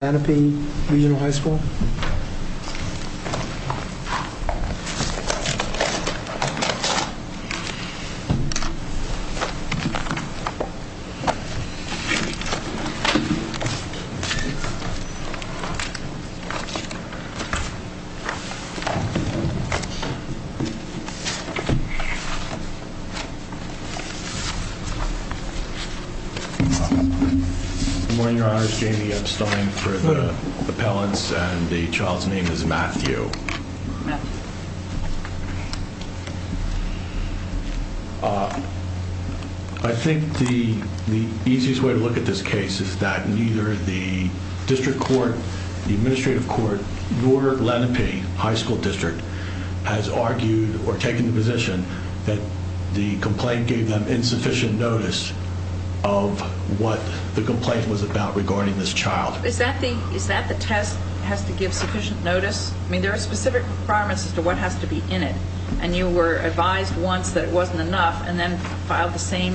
Lenape Regional High School? Good morning, Your Honors, Jamie Epstein for the appellants and the child's name is Matthew. I think the easiest way to look at this case is that neither the district court, the administrative court, nor Lenape High School District has argued or taken the position that the complaint gave them insufficient notice of what the complaint was about regarding this child. Is that the test, has to give sufficient notice? I mean, there are specific requirements as to what has to be in it and you were advised once that it wasn't enough and then filed the same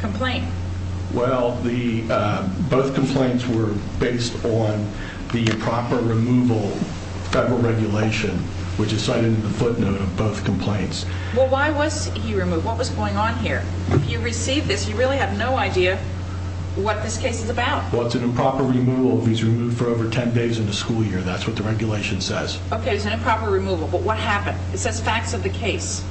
complaint. Well, both complaints were based on the proper removal federal regulation which is cited in the footnote of both complaints. Well, why was he removed? What was going on here? If you receive this, you really have no idea what this case is about. Well, it's an improper removal if he's removed for over 10 days in the school year. That's what the regulation says. Okay, it's an improper removal, but what happened? It says facts of the case.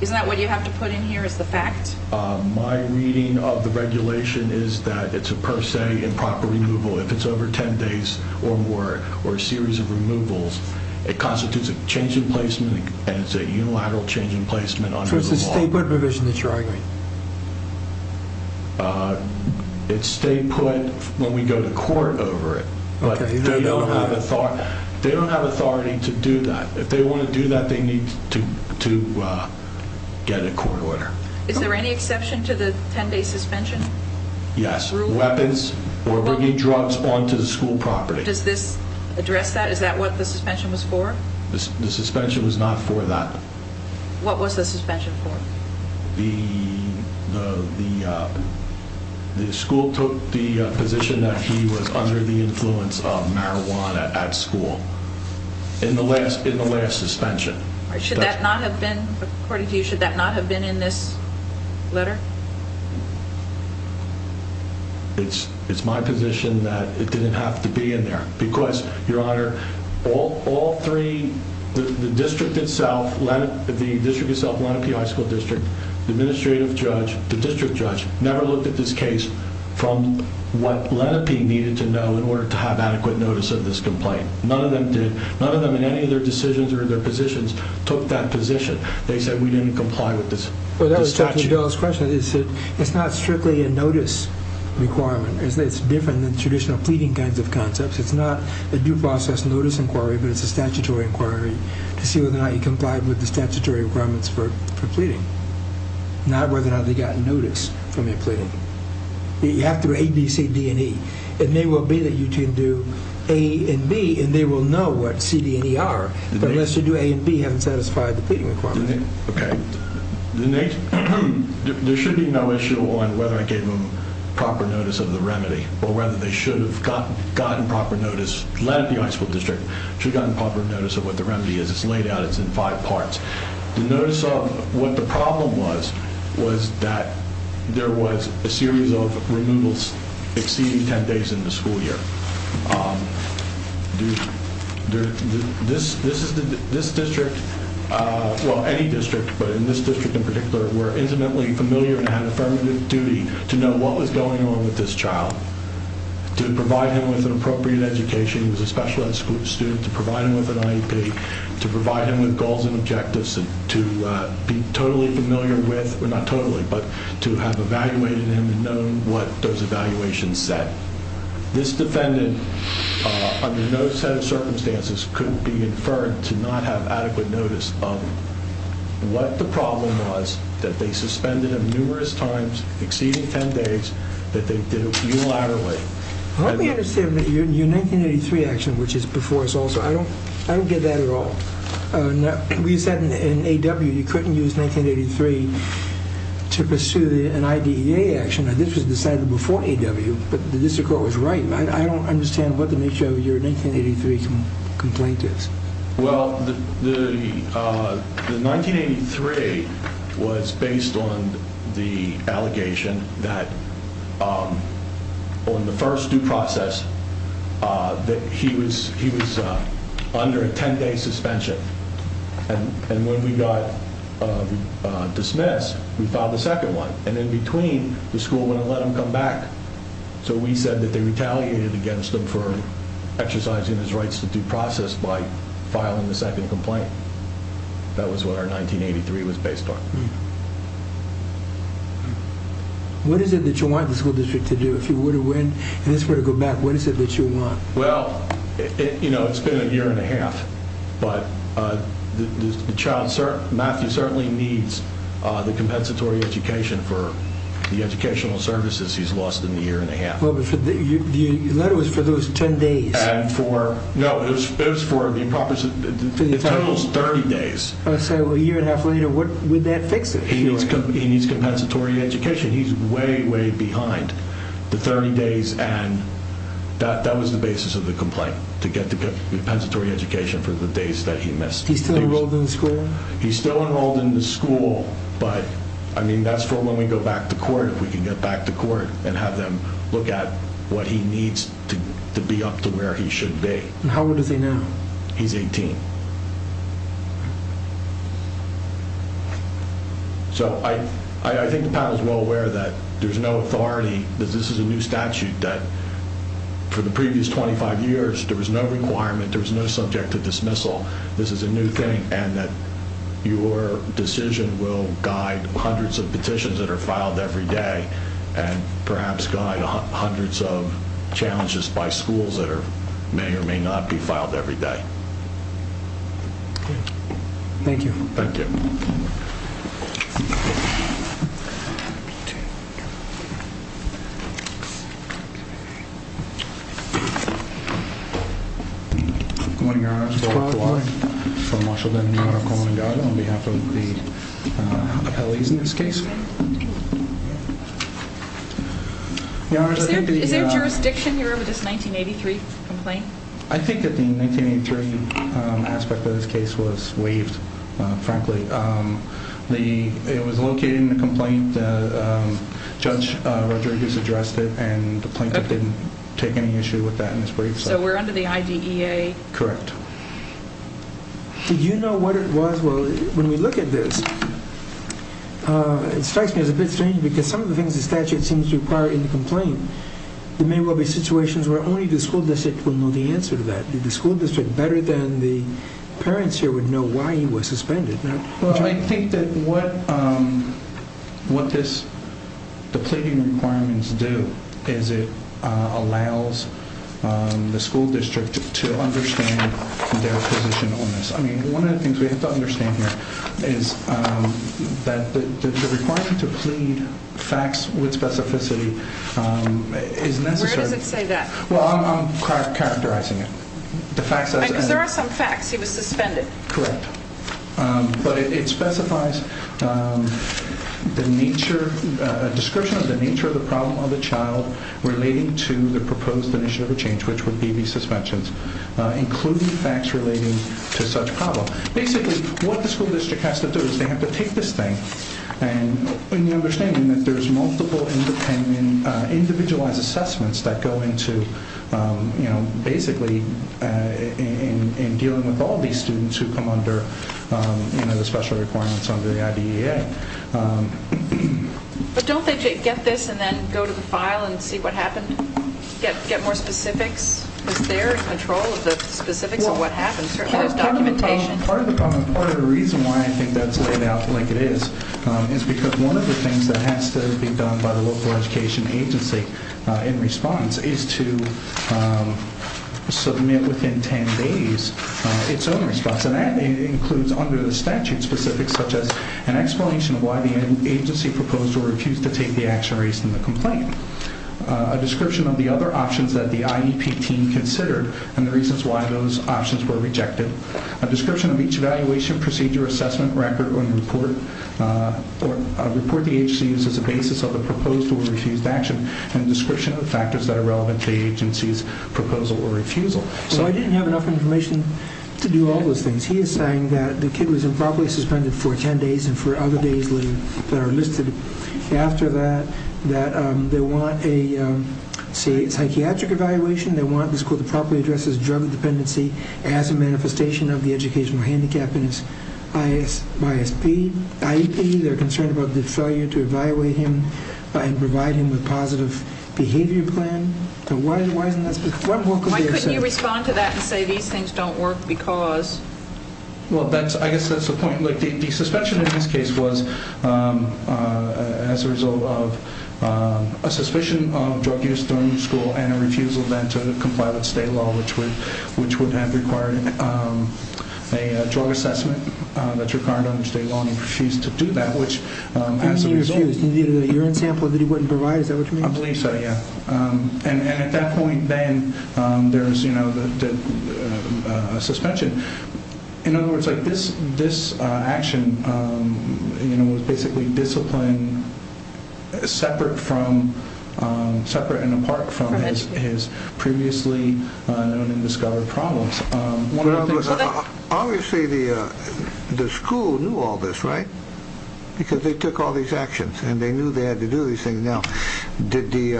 Isn't that what you have to put in here is the fact? My reading of the regulation is that it's a per se improper removal. If it's over 10 days or more or a series of removals, it constitutes a change in placement and it's a unilateral change in placement under the law. So it's a stay put provision that you're arguing? It's stay put when we go to court over it. Okay. They don't have authority to do that. If they want to do that, they need to get a court order. Is there any exception to the 10 day suspension? Yes. Weapons or bringing drugs onto the school property. Does this address that? Is that what the suspension was for? The suspension was not for that. What was the suspension for? The school took the position that he was under the influence of marijuana at school in the last suspension. According to you, should that not have been in this letter? It's it's my position that it didn't have to be in there because your honor, all all three, the district itself, the district itself, one of the high school district administrative judge, the district judge never looked at this case from what let it be needed to know in order to have adequate notice of this complaint. None of them did. None of them in any of their decisions or their positions took that position. They said we didn't comply with this statute. It's not strictly a notice requirement. It's different than traditional pleading kinds of concepts. It's not a due process notice inquiry, but it's a statutory inquiry to see whether or not you complied with the statutory requirements for pleading, not whether or not they got notice from your pleading. You have to ABCD and E. It may well be that you can do A and B and they will know what CD and E are, but unless you do A and B haven't satisfied the pleading requirement. OK, the next there should be no issue on whether I gave him proper notice of the remedy or whether they should have gotten gotten proper notice. Let the high school district should have gotten proper notice of what the remedy is. It's laid out. It's in five parts. The notice of what the problem was was that there was a series of removals exceeding 10 days in the school year. This district, well any district, but in this district in particular, were intimately familiar and had affirmative duty to know what was going on with this child, to provide him with an appropriate education. He was a special ed student to provide him with an IEP, to provide him with goals and objectives, and to be totally familiar with, not totally, but to have evaluated him and known what those evaluations said. This defendant, under no set of circumstances, could be inferred to not have adequate notice of what the problem was, that they suspended him numerous times, exceeding 10 days, that they did it unilaterally. Let me understand your 1983 action, which is before us also. I don't get that at all. We said in A.W. you couldn't use 1983 to pursue an IDEA action. This was decided before A.W., but the district court was right. I don't understand what the nature of your 1983 complaint is. Well, the 1983 was based on the allegation that on the first due process that he was under a 10-day suspension. And when we got dismissed, we filed the second one. And in between, the school wouldn't let him come back. So we said that they retaliated against him for exercising his rights to due process by filing the second complaint. That was what our 1983 was based on. What is it that you want the school district to do if you were to win and this were to go back? What is it that you want? Well, it's been a year and a half, but Matthew certainly needs the compensatory education for the educational services he's lost in the year and a half. The letter was for those 10 days. No, it was for the total 30 days. So a year and a half later, what would that fix it? He needs compensatory education. He's way, way behind the 30 days. And that was the basis of the complaint, to get the compensatory education for the days that he missed. He's still enrolled in the school? He's still enrolled in the school. But I mean, that's for when we go back to court, if we can get back to court and have them look at what he needs to be up to where he should be. And how old is he now? He's 18. So I think the panel is well aware that there's no authority. This is a new statute that for the previous 25 years, there was no requirement. There was no subject to dismissal. This is a new thing. And that your decision will guide hundreds of petitions that are filed every day and perhaps guide hundreds of challenges by schools that are may or may not be filed every day. Thank you. Thank you. Good morning, Your Honor. This is Bob Klaw. I'm from Washington. Your Honor, I'm calling on behalf of the appellees in this case. Your Honor, is there jurisdiction here with this 1983 complaint? I think that the 1983 aspect of this case was waived, frankly. It was located in the complaint. Judge Rodriguez addressed it and the plaintiff didn't take any issue with that in his brief. So we're under the IDEA? Correct. Did you know what it was? Well, when we look at this, it strikes me as a bit strange because some of the things the statute seems to require in the complaint, there may well be situations where only the school district will know the answer to that. Did the school district better than the parents here would know why he was suspended? Well, I think that what this, the pleading requirements do is it allows the school district to understand their position on this. I mean, one of the things we have to understand here is that the requirement to plead facts with specificity is necessary. Where does it say that? Well, I'm characterizing it. Because there are some that say that he was suspended. Correct. But it specifies the nature, a description of the nature of the problem of the child relating to the proposed initiative of change, which would be the suspensions, including facts relating to such problem. Basically, what the school district has to do is they have to take this thing and the understanding that there's multiple independent, individualized assessments that go into, you know, basically in dealing with all these students who come under, you know, the special requirements under the IDEA. But don't they get this and then go to the file and see what happened? Get more specifics? Is there control of the specifics of what happened? Certainly there's documentation. Part of the problem, part of the reason why I think that's laid out like it is, is because one of the things that has to be done by the local education agency in response is to submit within 10 days its own response. And that includes under the statute specifics, such as an explanation of why the agency proposed or refused to take the action raised in the complaint, a description of the other options that the IEP team considered and the reasons why those options were rejected, a description of each evaluation, procedure, assessment, record, or report, or report the agency used as a basis of the proposed or the factors that are relevant to the agency's proposal or refusal. So I didn't have enough information to do all those things. He is saying that the kid was improperly suspended for 10 days and for other days later that are listed after that, that they want a psychiatric evaluation, they want the school to properly address his drug dependency as a manifestation of the educational handicap in his IEP, they're concerned about the failure to evaluate him and provide him with a positive behavior plan. Why couldn't you respond to that and say these things don't work because? Well, I guess that's the point. The suspension in this case was as a result of a suspicion of drug use during school and a refusal then to comply with state law, which would have required a drug assessment that's required under state law and he refused to do that, which as a result... You mean he refused? The urine sample that he wouldn't provide, is that what you mean? I believe so, yeah. And at that point then there's, you know, the suspension. In other words, like this action, you know, was basically disciplined separate from, separate and apart from his previously known and discovered problems. Obviously the school knew all this, right? Because they took all these actions and they knew they had to do these things. Now, did the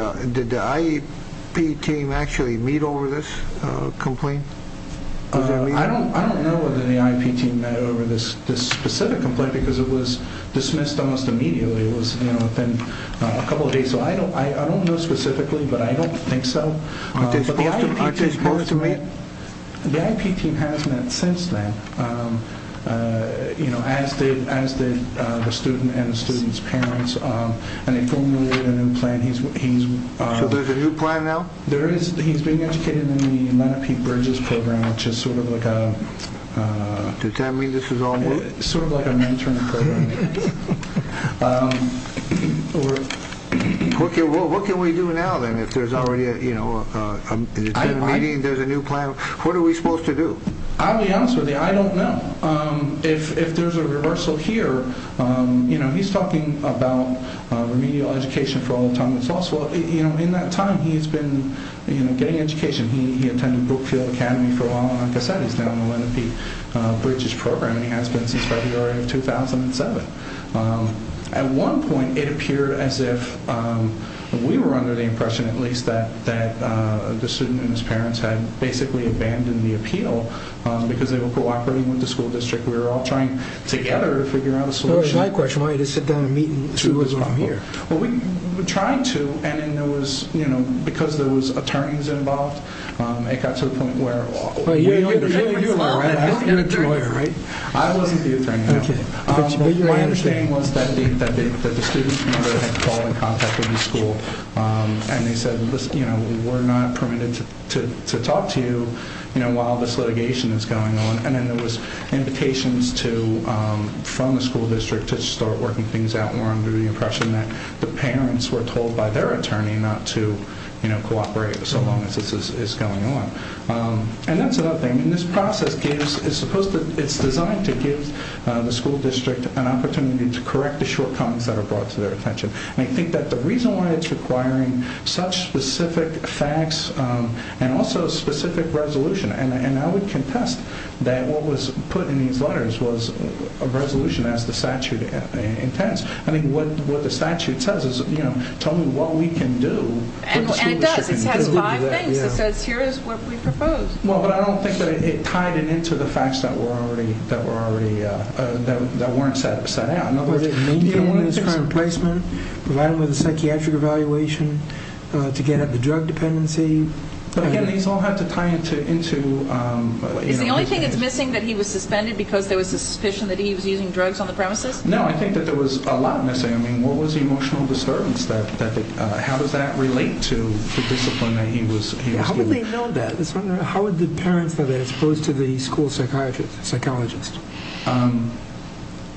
IEP team actually meet over this complaint? I don't know whether the IEP team met over this specific complaint because it was dismissed almost immediately. It was, you know, within a couple of days. So I don't know specifically, but I don't think so. Aren't they supposed to meet? The IEP team has met since then, you know, as did the student and the student's parents and they formulated a new plan. So there's a new plan now? There is. He's being educated in the Manatee Bridges program, which is sort of like a... Does that mean this is all work? Sort of like a mentoring program. What can we do now then if there's already, you know, a meeting, there's a new plan? What are we supposed to do? I'll be honest with you, I don't know. If there's a reversal here, you know, he's talking about remedial education for all time. It's also, you know, in that time he's been, you know, getting education. He attended Brookfield Academy for a while and like I said, he's now in the Manatee Bridges program and he has been since February of 2007. At one point it appeared as if we were under the impression at least that the student and his parents had basically abandoned the appeal because they were cooperating with the school district. We were all trying together to figure out a solution. All right, my question, why didn't you just sit down and meet and see what was wrong here? Well, we tried to and then there was, you know, because there was attorneys involved, it got to the point where... You're a lawyer, right? I wasn't the attorney. My understanding was that the student had called and contacted the school and they said, you know, we're not permitted to talk to you, you know, while this litigation is going on. And then there was invitations from the school district to start working things out and we're under the impression that the parents were told by their attorney not to, you know, cooperate so long as this is going on. And that's another thing. And this process is supposed to, it's designed to give the school district an opportunity to correct the shortcomings that are brought to their attention. And I think that the reason why it's requiring such specific facts and also specific resolution, and I would contest that what was put in these letters was a resolution as the statute intends. I mean, what the statute says is, you know, tell me what we can do. And it does. It has five things. It says here is what we propose. Well, but I don't think that it tied it into the facts that were already, that weren't set out. In other words, it maintained his current placement, provided him with a psychiatric evaluation to get at the drug dependency. But again, these all have to tie into... Is the only thing that's missing that he was suspended because there was suspicion that he was using drugs on the premises? No, I think that there was a lot missing. I mean, what was the emotional disturbance? How does that relate to the discipline that he was given? How would they know that? How would the parents know that as opposed to the school psychologist?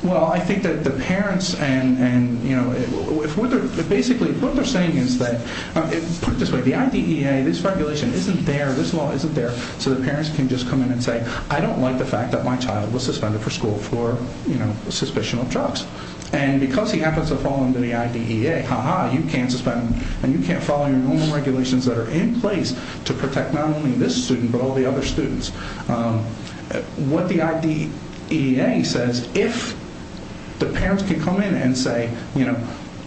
Well, I think that the parents and, you know, basically what they're saying is that, put it this way, the IDEA, this regulation isn't there, this law isn't there, so the parents can just come in and say, I don't like the fact that my child was suspended for school for, you know, suspicion of drugs. And because he happens to fall under the IDEA, ha-ha, you can't suspend him, and you can't follow your normal regulations that are in place to protect not only this student but all the other students. What the IDEA says, if the parents can come in and say, you know,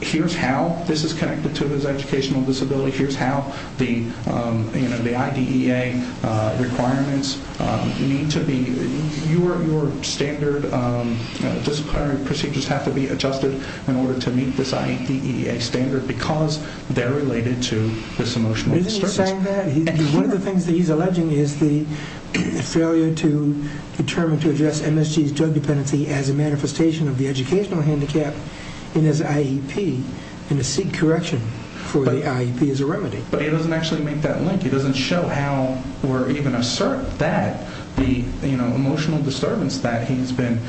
here's how this is connected to his educational disability, here's how the IDEA requirements need to be... Your standard disciplinary procedures have to be adjusted in order to meet this IDEA standard because they're related to this emotional disturbance. Isn't he saying that? One of the things that he's alleging is the failure to determine to address MSG's drug dependency as a manifestation of the educational handicap in his IEP and to seek correction for the IEP as a remedy. But he doesn't actually make that link. He doesn't show how or even assert that the, you know, emotional disturbance that he's been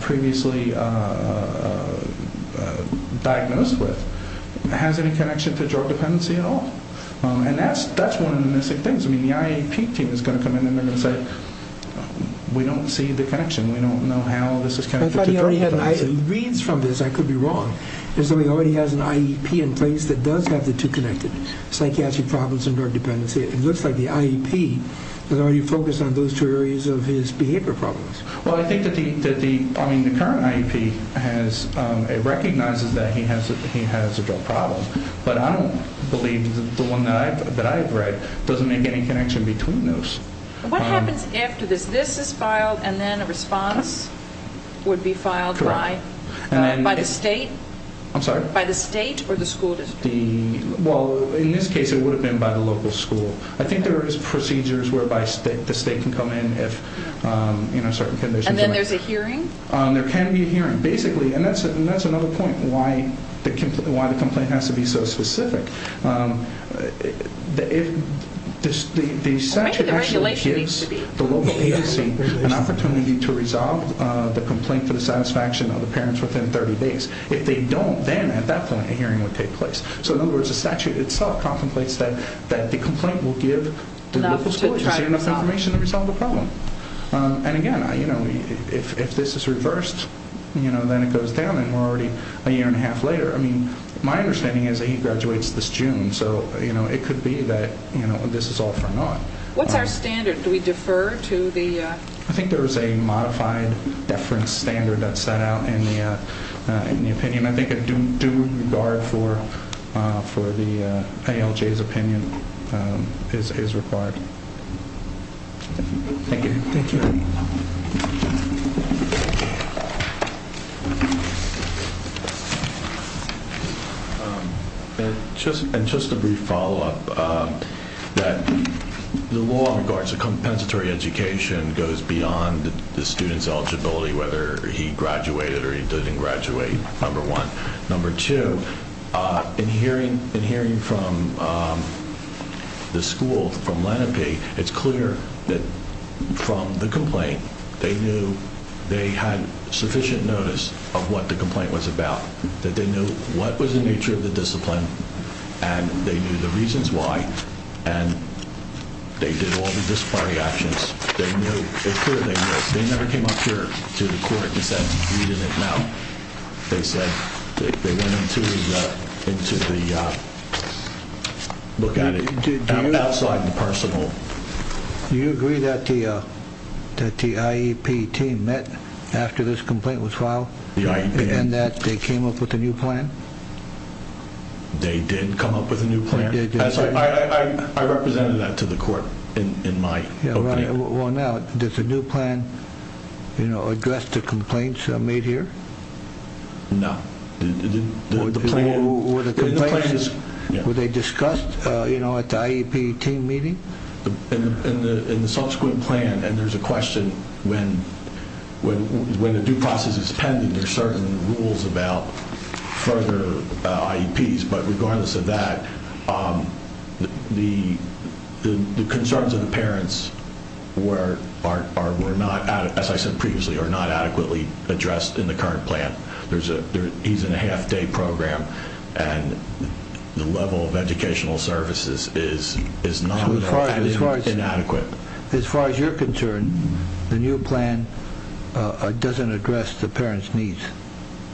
previously diagnosed with has any connection to drug dependency at all. And that's one of the missing things. I mean, the IEP team is going to come in and they're going to say, we don't see the connection, we don't know how this is connected. He reads from this, I could be wrong. He already has an IEP in place that does have the two connected, psychiatric problems and drug dependency. It looks like the IEP is already focused on those two areas of his behavior problems. Well, I think that the current IEP recognizes that he has a drug problem, but I don't believe the one that I have read doesn't make any connection between those. What happens after this? This is filed and then a response would be filed by the state? I'm sorry? By the state or the school district? Well, in this case it would have been by the local school. I think there is procedures whereby the state can come in if, you know, certain conditions arise. And then there's a hearing? There can be a hearing. Basically, and that's another point why the complaint has to be so specific. The statute actually gives the local agency an opportunity to resolve the complaint for the satisfaction of the parents within 30 days. If they don't, then at that point a hearing would take place. So in other words, the statute itself contemplates that the complaint will give the local school agency enough information to resolve the problem. And again, if this is reversed, then it goes down and we're already a year and a half later. I mean, my understanding is that he graduates this June, so it could be that this is all for naught. What's our standard? Do we defer to the? I think there is a modified deference standard that's set out in the opinion. I think a due regard for the ALJ's opinion is required. Thank you. And just a brief follow-up that the law in regards to compensatory education goes beyond the student's eligibility, whether he graduated or he didn't graduate, number one. Number two, in hearing from the school, from Lenape, it's clear that from the complaint they knew they had sufficient notice of what the complaint was about. That they knew what was the nature of the discipline and they knew the reasons why. And they did all the disciplinary actions. They knew, it's clear they knew. They never came up here to the court and said we didn't know. They said they went into the, look at it outside the personal. Do you agree that the IEP team met after this complaint was filed? The IEP. And that they came up with a new plan? They did come up with a new plan. I represented that to the court in my opinion. Well, now, does the new plan address the complaints made here? No. Were the complaints, were they discussed at the IEP team meeting? In the subsequent plan, and there's a question, when the due process is pending, there are certain rules about further IEPs. But regardless of that, the concerns of the parents were not, as I said previously, are not adequately addressed in the current plan. He's in a half-day program and the level of educational services is not adequate. As far as you're concerned, the new plan doesn't address the parents' needs.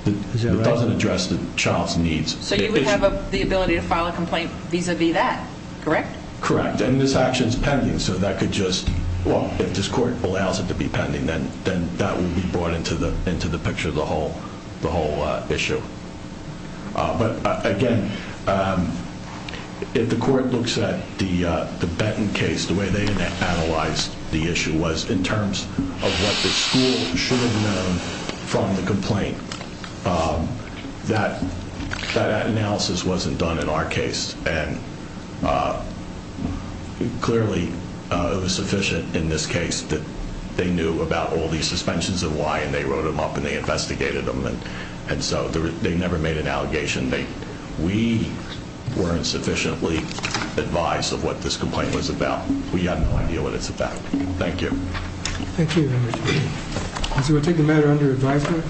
It doesn't address the child's needs. So you would have the ability to file a complaint vis-a-vis that, correct? Correct. And this action is pending. So that could just, well, if this court allows it to be pending, then that would be brought into the picture of the whole issue. But, again, if the court looks at the Benton case, the way they analyzed the issue was in terms of what the school should have known from the complaint that that analysis wasn't done in our case. And clearly it was sufficient in this case that they knew about all these suspensions and why, and they wrote them up and they investigated them. And so they never made an allegation. We weren't sufficiently advised of what this complaint was about. We have no idea what it's about. Thank you. Thank you, Mr. Chairman. So we'll take the matter under advisement.